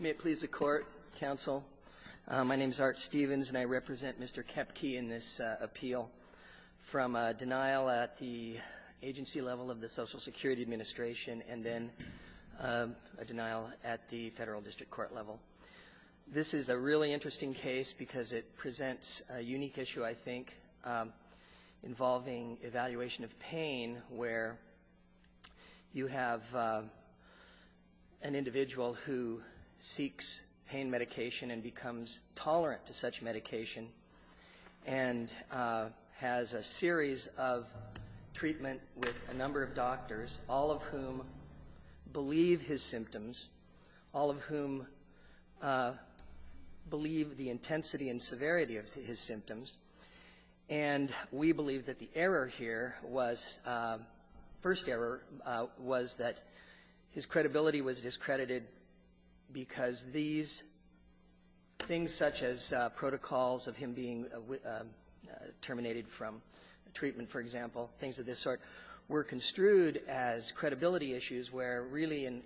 May it please the court, counsel. My name is Art Stevens and I represent Mr. Koepke in this appeal from a denial at the agency level of the Social Security Administration and then a denial at the Federal District Court level. This is a really interesting case because it presents a unique issue, I think, involving evaluation of pain where you have an individual who seeks pain medication and becomes tolerant to such medication and has a series of treatment with a number of doctors, all of whom believe his symptoms, all of whom believe the intensity and severity of his symptoms, and we believe that the error here was, first error, was that his credibility was discredited because these things such as protocols of him being terminated from treatment, for example, things of this sort, were construed as credibility issues where really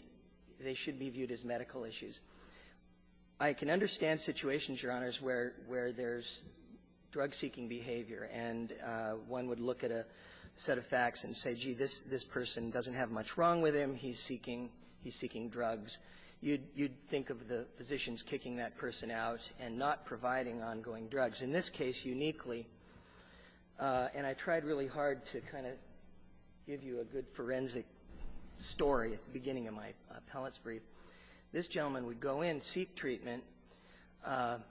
they should be viewed as medical issues. I can understand situations, Your Honors, where there's drug-seeking behavior and one would look at a set of facts and say, gee, this person doesn't have much wrong with him. He's seeking drugs. You'd think of the physicians kicking that person out and not providing ongoing drugs. In this case, uniquely, and I tried really hard to kind of give you a good forensic story at the beginning of my appellate's brief, this gentleman would go in, seek treatment.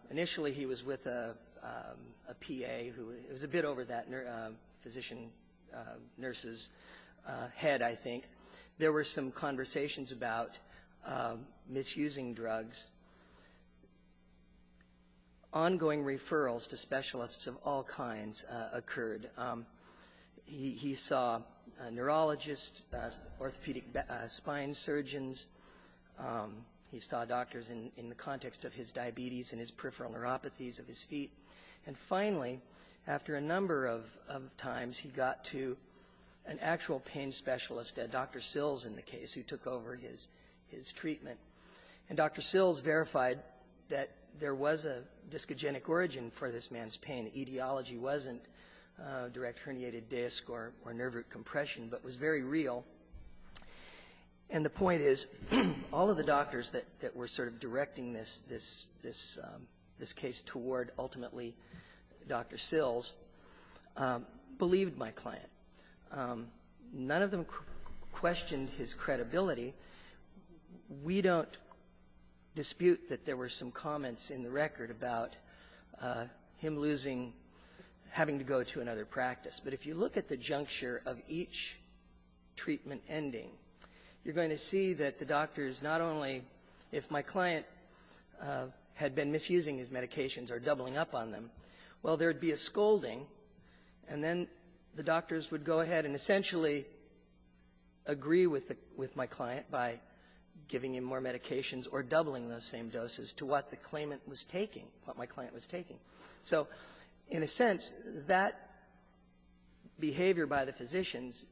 Initially, he was with a PA who was a bit over that physician nurse's head, I think. There were some conversations about misusing drugs. Ongoing referrals to specialists of all kinds occurred. He saw a neurologist, orthopedic spine surgeons. He saw doctors in the context of his diabetes and his peripheral neuropathies of his feet. And finally, after a number of times, he got to an actual pain specialist, Dr. Sills, in the case, who took over his treatment. And Dr. Sills verified that there was a discogenic origin for this man's pain. The etiology wasn't direct herniated disc or nerve root compression, but was very real. And the point is, all of the doctors that were sort of directing this case toward ultimately Dr. Sills believed my client. None of them questioned his credibility. We don't dispute that there were some comments in the record about him losing or having to go to another practice. But if you look at the juncture of each treatment ending, you're going to see that the doctors, not only if my client had been misusing his medications or doubling up on them, well, there would be a scolding, and then the doctors would go ahead and essentially agree with my client by giving him more medications or doubling those same doses to what the claimant was taking, what my client was taking. So in a sense, that behavior by the physicians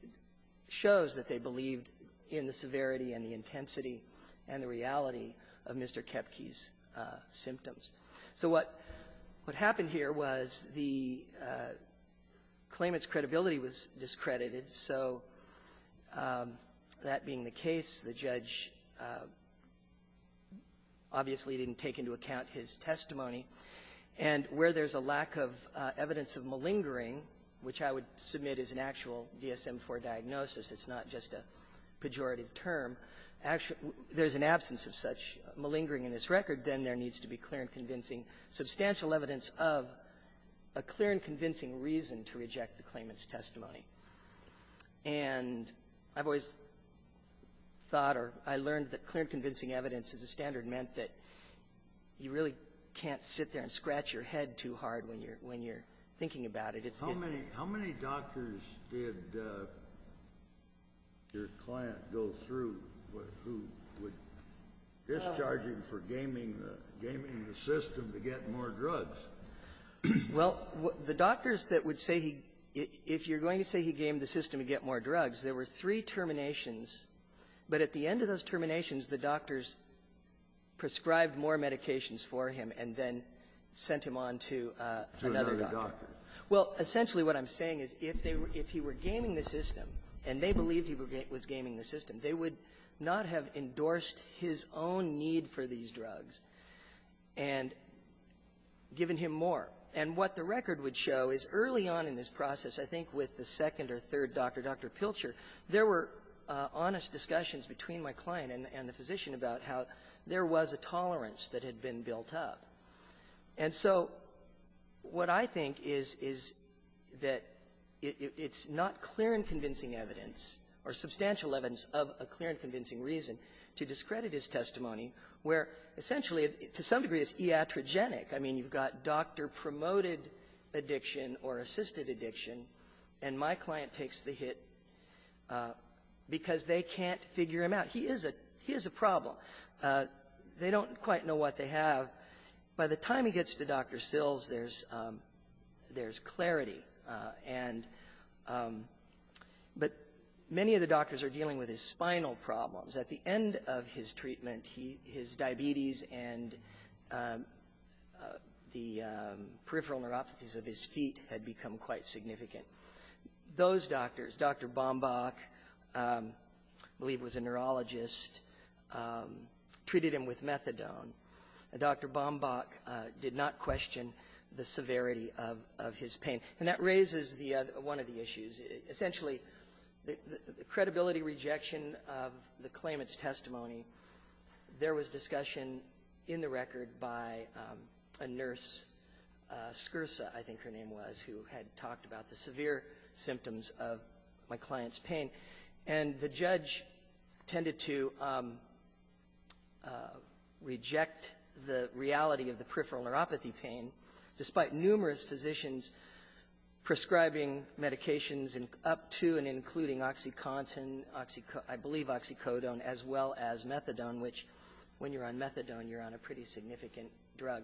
shows that they believed in the severity and the intensity and the reality of Mr. Kepke's symptoms. So what happened here was the claimant's credibility was discredited. So that being the case, the judge obviously didn't take into account his testimony. And where there's a lack of evidence of malingering, which I would submit is an actual it's not just a pejorative term, there's an absence of such malingering in this record, then there needs to be clear and convincing substantial evidence of a clear and convincing reason to reject the claimant's testimony. And I've always thought or I learned that clear and convincing evidence as a standard meant that you really can't sit there and scratch your head too hard when you're thinking about it. It's getting to you. Kennedy. How many doctors did your client go through who would discharge him for gaming the system to get more drugs? Well, the doctors that would say he – if you're going to say he gamed the system to get more drugs, there were three terminations. But at the end of those terminations, the doctors prescribed more medications for him and then sent him on to another doctor. To another doctor. Well, essentially what I'm saying is if they were – if he were gaming the system and they believed he was gaming the system, they would not have endorsed his own need for these drugs and given him more. And what the record would show is early on in this process, I think with the second or third doctor, Dr. Pilcher, there were honest discussions between my client and the physician about how there was a tolerance that had been built up. And so what I think is, is that it's not clear and convincing evidence or substantial evidence of a clear and convincing reason to discredit his testimony where essentially, to some degree, it's iatrogenic. I mean, you've got doctor-promoted addiction or assisted addiction, and my client takes the hit because they can't figure him out. He is a – he is a problem. They don't quite know what they have. By the time he gets to Dr. Sills, there's clarity. And – but many of the doctors are dealing with his spinal problems. At the end of his treatment, his diabetes and the peripheral neuropathies of his feet had become quite significant. Those doctors, Dr. Bombach, I believe was a neurologist, treated him with methadone. Dr. Bombach did not question the severity of his pain. And that raises the – one of the issues. Essentially, the credibility rejection of the claimant's testimony, there was discussion in the record by a nurse, Scursa, I think her name was, who had talked about the severe symptoms of my client's pain. And the judge tended to reject the reality of the peripheral neuropathy pain, despite numerous physicians prescribing medications up to and including oxycontin, oxy – I believe oxycodone, as well as methadone, which when you're on methadone, you're on a pretty significant drug.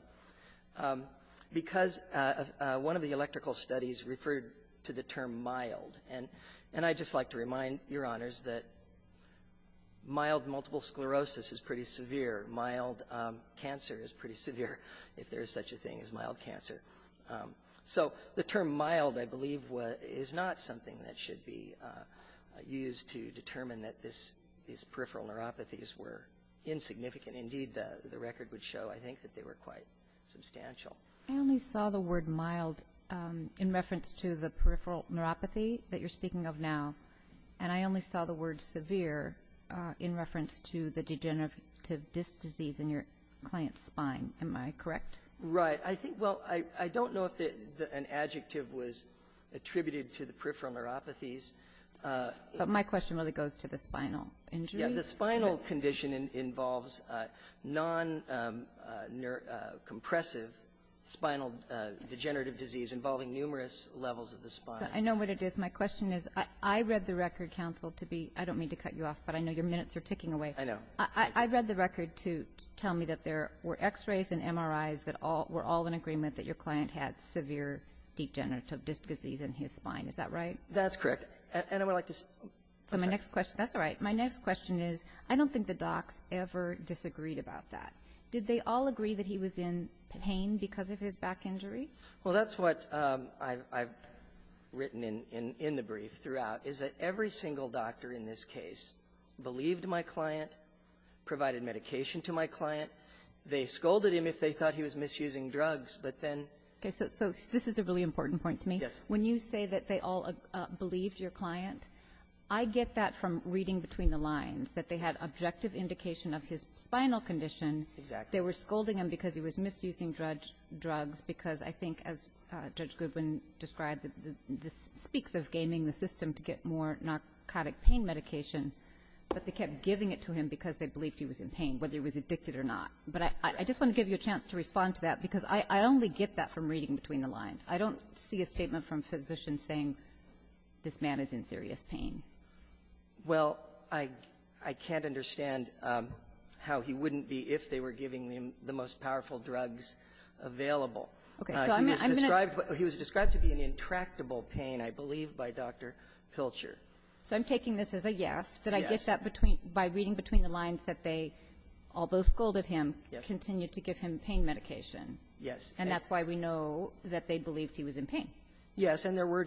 Because one of the electrical studies referred to the term mild. And I'd just like to remind your honors that mild multiple sclerosis is pretty severe. Mild cancer is pretty severe, if there is such a thing as mild cancer. So the term mild, I believe, is not something that should be used to determine that this – these peripheral neuropathies were insignificant. Indeed, the record would show, I think, that they were quite substantial. I only saw the word mild in reference to the peripheral neuropathy that you're speaking of now. And I only saw the word severe in reference to the degenerative disc disease in your client's spine. Am I correct? Right. I think – well, I don't know if an adjective was attributed to the peripheral neuropathies. But my question really goes to the spinal injury. The spinal condition involves non-compressive spinal degenerative disease involving numerous levels of the spine. I know what it is. My question is, I read the record, counsel, to be – I don't mean to cut you off, but I know your minutes are ticking away. I know. I read the record to tell me that there were X-rays and MRIs that were all in agreement that your client had severe degenerative disc disease in his spine. Is that right? That's correct. And I would like to – So my next question – that's all right. My next question is, I don't think the docs ever disagreed about that. Did they all agree that he was in pain because of his back injury? Well, that's what I've written in the brief throughout, is that every single doctor in this case believed my client, provided medication to my client. They scolded him if they thought he was misusing drugs, but then – Okay. So this is a really important point to me. When you say that they all believed your client, I get that from reading between the lines, that they had objective indication of his spinal condition. Exactly. They were scolding him because he was misusing drugs, because I think, as Judge Goodwin described, this speaks of gaming the system to get more narcotic pain medication, but they kept giving it to him because they believed he was in pain, whether he was addicted or not. But I just want to give you a chance to respond to that, because I only get that from reading between the lines. I don't see a statement from physicians saying this man is in serious pain. Well, I can't understand how he wouldn't be if they were giving him the most powerful drugs available. Okay. So I'm going to – He was described to be in intractable pain, I believe, by Dr. Pilcher. So I'm taking this as a yes, that I get that between – by reading between the lines that they, although scolded him, continued to give him pain medication. Yes. And that's why we know that they believed he was in pain. Yes. And there were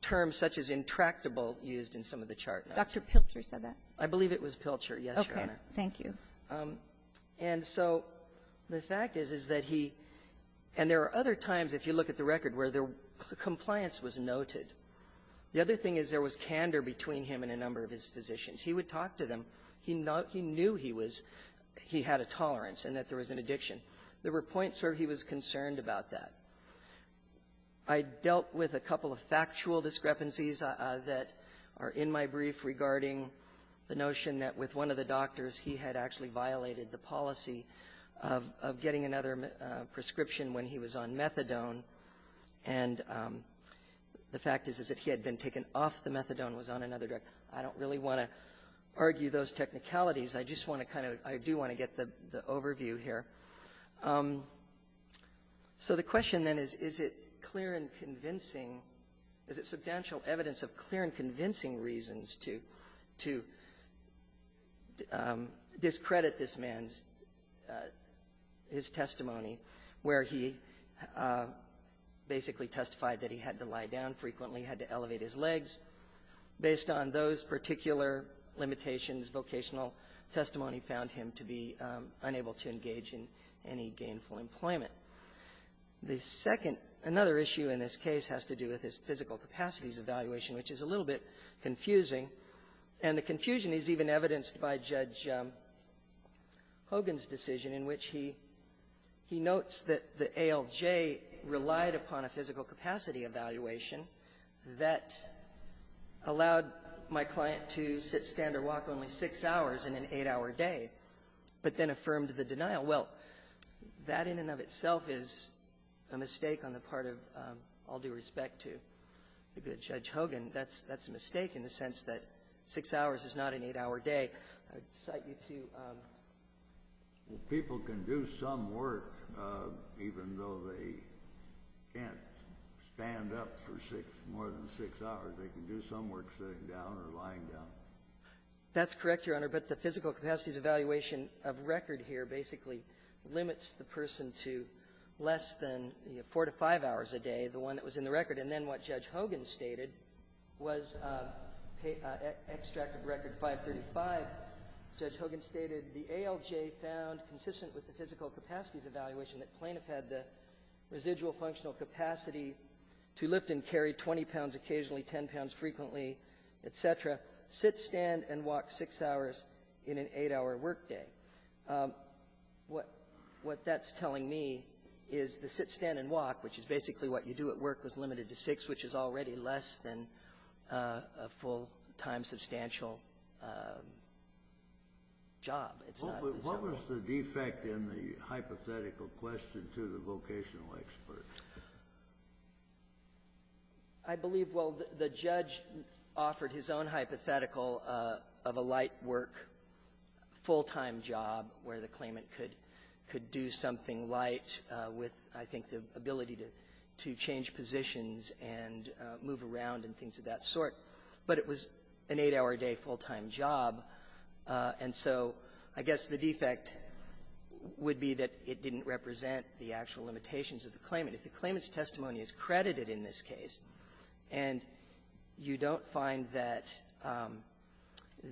terms such as intractable used in some of the charts. Dr. Pilcher said that. I believe it was Pilcher. Yes, Your Honor. Okay. Thank you. And so the fact is, is that he – and there are other times, if you look at the record, where the compliance was noted. The other thing is there was candor between him and a number of his physicians. He would talk to them. He knew he was – he had a tolerance and that there was an addiction. There were points where he was concerned about that. I dealt with a couple of factual discrepancies that are in my brief regarding the notion that with one of the doctors, he had actually violated the policy of getting another prescription when he was on methadone. And the fact is, is that he had been taken off the methadone and was on another drug. I don't really want to argue those technicalities. I just want to kind of – I just want to give you the overview here. So the question then is, is it clear and convincing – is it substantial evidence of clear and convincing reasons to discredit this man's – his testimony where he basically testified that he had to lie down frequently, had to elevate his legs. Based on those particular limitations, vocational testimony found him to be unable to engage in any gainful employment. The second – another issue in this case has to do with his physical capacities evaluation, which is a little bit confusing. And the confusion is even evidenced by Judge Hogan's decision in which he – he notes that the ALJ relied upon a physical capacity evaluation that allowed my client to sit, stand, or walk only six hours in an eight-hour day, but then affirmed the denial. Well, that in and of itself is a mistake on the part of all due respect to the good Judge Hogan. That's – that's a mistake in the sense that six hours is not an eight-hour day. I would cite you to – Well, people can do some work even though they can't stand up for six – more than six hours. They can do some work sitting down or lying down. That's correct, Your Honor, but the physical capacities evaluation of record here basically limits the person to less than, you know, four to five hours a day, the one that was in the record. And then what Judge Hogan stated was – extract of Record 535, Judge Hogan stated the ALJ found, consistent with the physical capacities evaluation, that plaintiff had the residual functional capacity to lift and carry 20 pounds occasionally, 10 pounds frequently, et cetera, sit, stand, and walk six hours in an eight-hour work day. What – what that's telling me is the sit, stand, and walk, which is basically what you do at work, was limited to six, which is already less than a full-time substantial job. It's not – Well, what was the defect in the hypothetical question to the vocational expert? I believe, well, the judge offered his own hypothetical of a light work full-time job where the claimant could do something light with, I think, the ability to change positions and move around and things of that sort. But it was an eight-hour-a-day job. The defect would be that it didn't represent the actual limitations of the claimant. If the claimant's testimony is credited in this case and you don't find that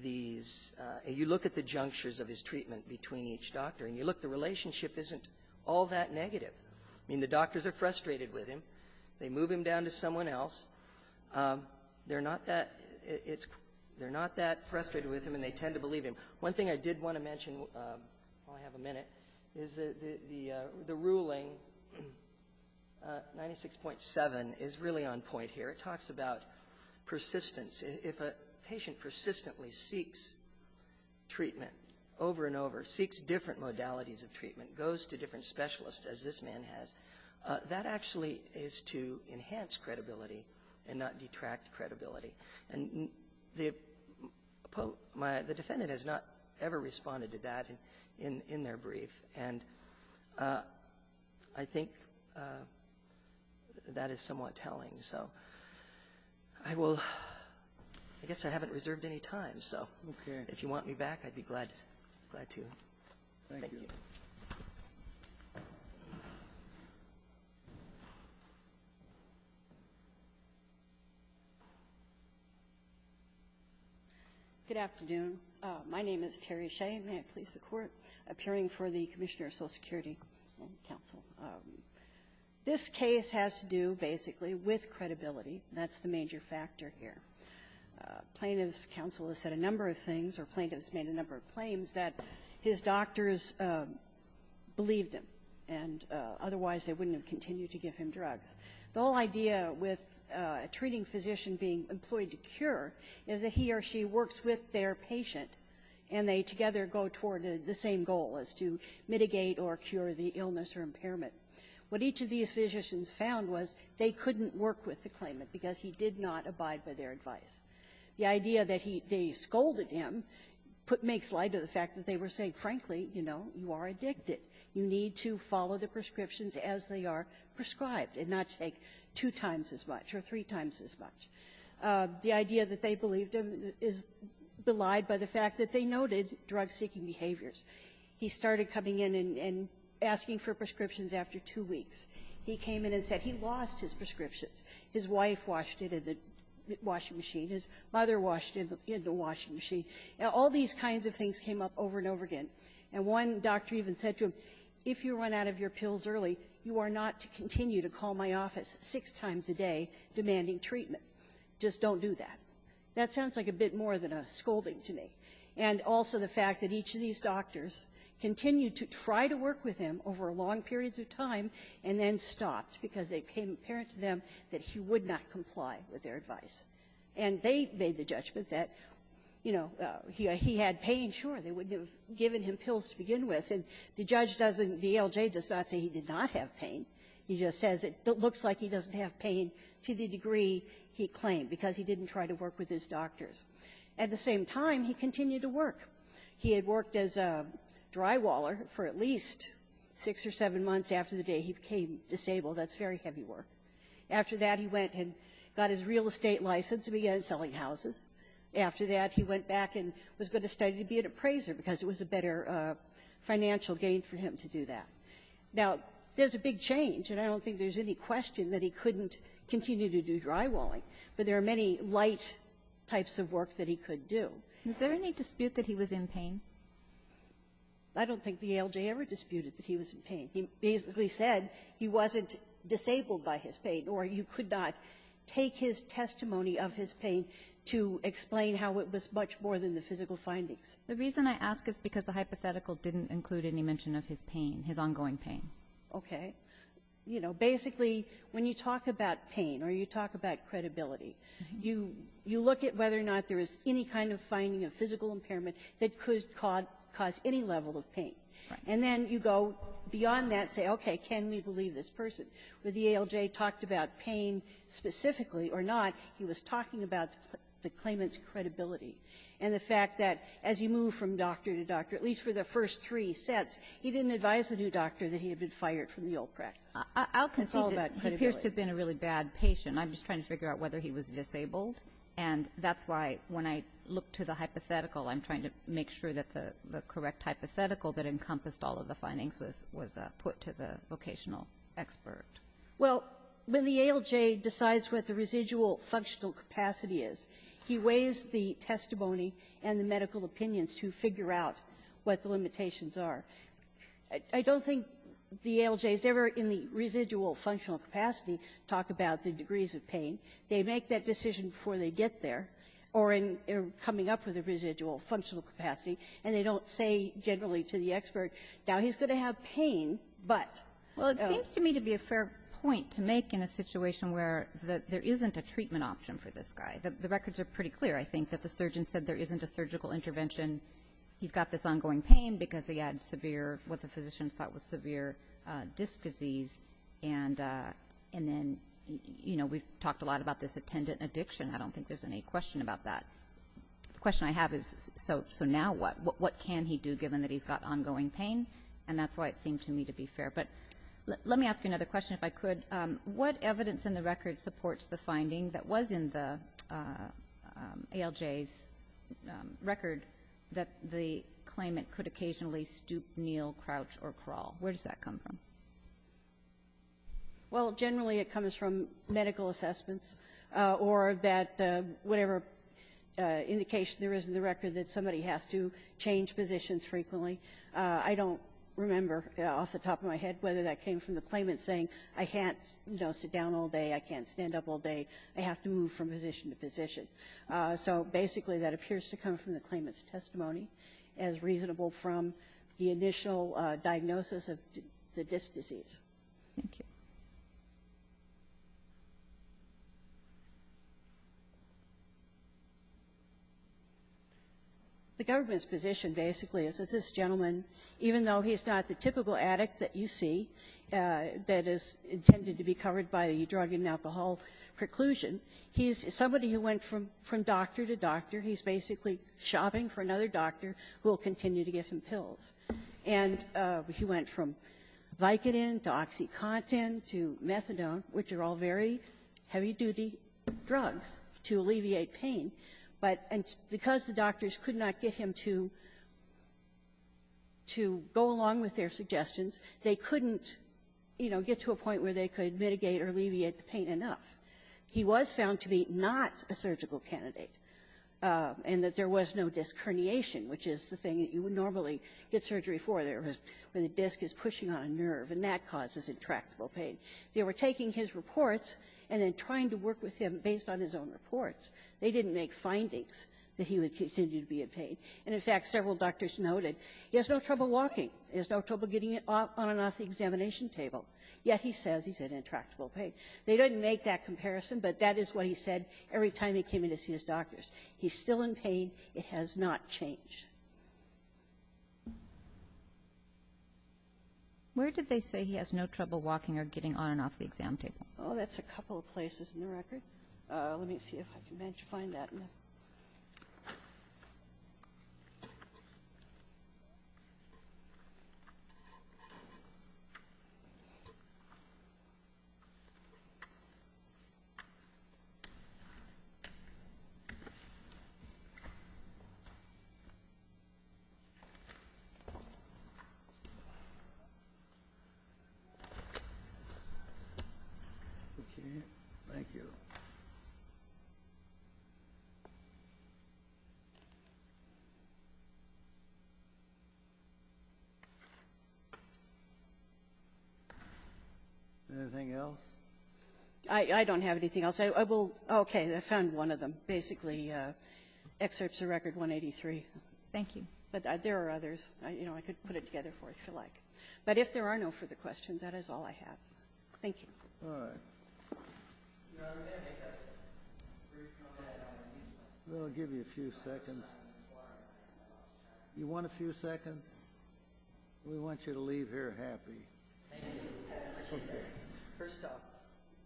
these – you look at the junctures of his treatment between each doctor and you look, the relationship isn't all that negative. I mean, the doctors are frustrated with him. They move him down to someone else. They're not that – it's – they're not that frustrated with him, and they tend to believe him. One thing I did want to mention while I have a minute is the ruling 96.7 is really on point here. It talks about persistence. If a patient persistently seeks treatment over and over, seeks different modalities of treatment, goes to different specialists as this man has, that actually is to enhance credibility and not detract credibility. And the defendant has not ever responded to that in their brief, and I think that is somewhat telling. So I will – I guess I haven't reserved any time, so if you want me back, I'd be glad to. Thank you. Thank you. Good afternoon. My name is Terry Shea. May it please the Court. Appearing for the Commissioner of Social Security Council. This case has to do, basically, with credibility. That's the major factor here. Plaintiffs' counsel has said a number of things or plaintiffs made a number of claims that his doctors believed him, and otherwise they wouldn't have continued to give him drugs. The whole idea with a treating physician being employed to cure is that he or she works with their patient, and they together go toward the same goal as to mitigate or cure the illness or impairment. What each of these physicians found was they couldn't work with the claimant because he did not abide by their advice. The idea that they scolded him makes light of the fact that they were saying, frankly, you know, you are addicted. You need to follow the prescriptions as they are prescribed and not take two times as much or three times as much. The idea that they believed him is belied by the fact that they noted drug-seeking behaviors. He started coming in and asking for prescriptions after two weeks. He came in and said he lost his prescriptions. His wife washed it in the washing machine. His mother washed it in the washing machine. Now, all these kinds of things came up over and over again. And one doctor even said to him, if you run out of your pills early, you are not to continue to call my office six times a day demanding treatment. Just don't do that. That sounds like a bit more than a scolding to me. And also the fact that each of these doctors continued to try to work with him over long periods of time and then stopped because it became apparent to them that he would not comply with their advice. And they made the judgment that, you know, he had pain. Sure, they wouldn't have given him pills to begin with. And the judge doesn't, the ALJ does not say he did not have pain. He just says it looks like he doesn't have pain to the degree he claimed, because he didn't try to work with his doctors. At the same time, he continued to work. He had worked as a drywaller for at least six or seven months after the day he became disabled. That's very heavy work. After that, he went and got his real estate license and began selling houses. After that, he went back and was going to study to be an appraiser because it was a better financial gain for him to do that. Now, there's a big change, and I don't think there's any question that he couldn't continue to do drywalling. But there are many light types of work that he could do. Is there any dispute that he was in pain? I don't think the ALJ ever disputed that he was in pain. He basically said he wasn't disabled by his pain, or you could not take his testimony of his pain to explain how it was much more than the physical findings. The reason I ask is because the hypothetical didn't include any mention of his pain, his ongoing pain. Okay. You know, basically, when you talk about pain or you talk about credibility, you look at whether or not there is any kind of finding of physical impairment that could cause any level of pain. Right. And then you go beyond that and say, okay, can we believe this person? But the ALJ talked about pain specifically or not. He was talking about the claimant's credibility and the fact that as you move from doctor to doctor, at least for the first three sets, he didn't advise the new doctor that he had been fired from the old practice. It's all about credibility. I'll concede that he appears to have been a really bad patient. I'm just trying to figure out whether he was disabled. And that's why, when I look to the hypothetical, I'm trying to make sure that the correct hypothetical that encompassed all of the findings was put to the vocational expert. Well, when the ALJ decides what the residual functional capacity is, he weighs the testimony and the medical opinions to figure out what the limitations are. I don't think the ALJ has ever in the residual functional capacity talked about the degrees of pain. They make that decision before they get there or in coming up with a residual functional capacity, and they don't say generally to the expert, now, he's going to have pain, but. Well, it seems to me to be a fair point to make in a situation where there isn't a treatment option for this guy. The records are pretty clear, I think, that the surgeon said there isn't a surgical intervention. He's got this ongoing pain because he had severe, what the physicians thought was severe, disc disease, and then, you know, we've talked a lot about this attendant addiction. I don't think there's any question about that. The question I have is, so now what? What can he do, given that he's got ongoing pain? And that's why it seemed to me to be fair. But let me ask you another question, if I could. What evidence in the record supports the finding that was in the ALJ's record that the claimant could occasionally stoop, kneel, crouch, or crawl? Where does that come from? Well, generally, it comes from medical assessments or that whatever indication there is in the record that somebody has to change positions frequently. I don't remember off the top of my head whether that came from the claimant saying, I can't, you know, sit down all day, I can't stand up all day, I have to move from position to position. So basically, that appears to come from the claimant's testimony, as reasonable from the initial diagnosis of the disc disease. Thank you. The government's position, basically, is that this gentleman, even though he's not the typical addict that you see, that is intended to be covered by the drug and alcohol preclusion, he's somebody who went from doctor to doctor. He's basically shopping for another doctor who will continue to give him pills. And he went from Vicodin to OxyContin to Methadone, which are all very heavy-duty drugs to alleviate pain. But because the doctors could not get him to go along with their suggestions, they couldn't, you know, get to a point where they could mitigate or alleviate the pain enough. He was found to be not a surgical candidate, and that there was no disc herniation, which is the thing that you would normally get surgery for. There was where the disc is pushing on a nerve, and that causes intractable pain. They were taking his reports and then trying to work with him based on his own reports. They didn't make findings that he would continue to be in pain. And, in fact, several doctors noted he has no trouble walking. He has no trouble getting on and off the examination table. Yet, he says he's in intractable pain. They didn't make that comparison, but that is what he said every time he came in to see his doctors. He's still in pain. It has not changed. Kagan, where did they say he has no trouble walking or getting on and off the exam table? Oh, that's a couple of places in the record. Let me see if I can find that. Thank you. Anything else? I don't have anything else. I will ‑‑ okay. I found one of them. Basically, excerpts of record 183. Thank you. But there are others. I could put it together for you, if you like. But if there are no further questions, that is all I have. Thank you. All right. I'm going to make a brief comment. We'll give you a few seconds. You want a few seconds? We want you to leave here happy. Thank you. First off,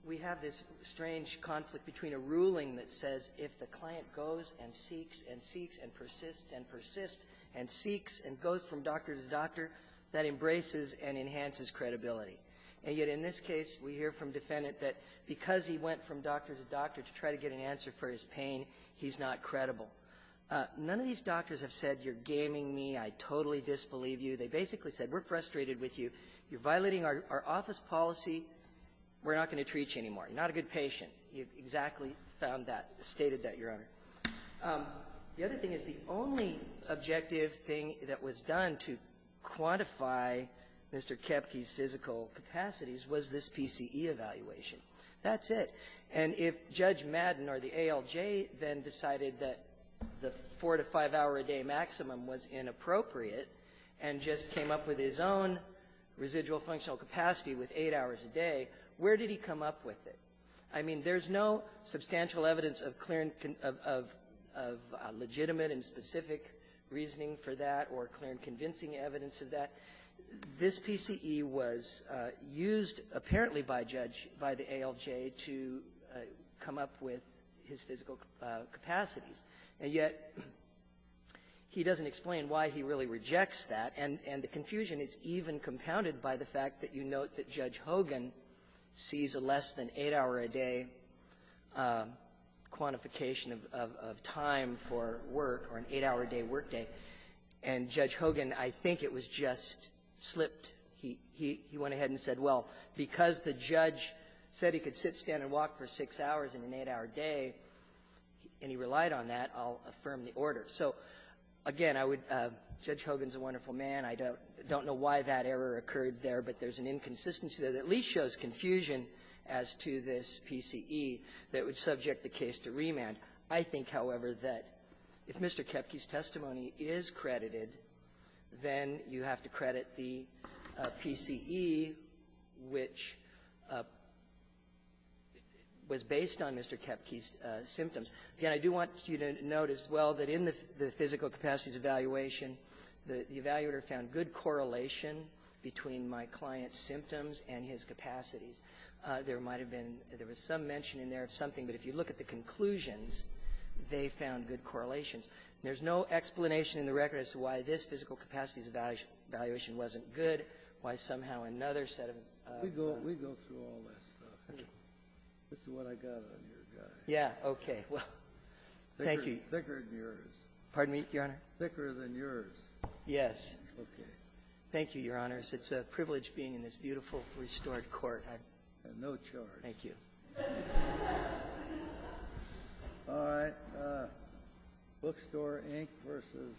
we have this strange conflict between a ruling that says if the client goes and seeks and seeks and persists and persists and seeks and goes from doctor to doctor, that embraces and enhances credibility. And yet in this case, we hear from defendant that because he went from doctor to doctor to try to get an answer for his pain, he's not credible. None of these doctors have said you're gaming me, I totally disbelieve you. They basically said we're frustrated with you, you're violating our office policy, we're not going to treat you anymore. You're not a good patient. You've exactly found that, stated that, Your Honor. The other thing is the only objective thing that was done to quantify Mr. Koepke's physical capacities was this PCE evaluation. That's it. And if Judge Madden or the ALJ then decided that the four to five-hour-a-day maximum was inappropriate and just came up with his own residual functional capacity with eight hours a day, where did he come up with it? I mean, there's no substantial evidence of clear and of legitimate and specific reasoning for that or clear and convincing evidence of that. This PCE was used apparently by Judge by the ALJ to come up with his physical capacities, and yet he doesn't explain why he really rejects that. And the confusion is even compounded by the fact that you note that Judge Hogan sees a less than eight-hour-a-day quantification of time for work or an eight-hour-a-day workday, and Judge Hogan, I think it was just slipped. He went ahead and said, well, because the judge said he could sit, stand, and walk for six hours in an eight-hour day, and he relied on that, I'll affirm the order. So, again, I would – Judge Hogan's a wonderful man. I don't know why that error occurred there, but there's an inconsistency there that at least shows confusion as to this PCE that would subject the case to remand. I think, however, that if Mr. Koepke's testimony is credited, then you have to credit the PCE, which was based on Mr. Koepke's symptoms. Again, I do want you to note as well that in the physical capacities evaluation, the evaluator found good correlation between my client's symptoms and his capacities. There might have been – there was some mention in there of something, but if you look at the conclusions, they found good correlations. There's no explanation in the record as to why this physical capacities evaluation wasn't good, why somehow another set of – We go – we go through all that stuff. Okay. This is what I got on your guy. Yeah. Okay. Well, thank you. Thicker than yours. Pardon me, Your Honor? Thicker than yours. Yes. Okay. Thank you, Your Honors. It's a privilege being in this beautiful, restored court. I have no charge. Thank you. All right. Bookstore Inc. versus Leonard.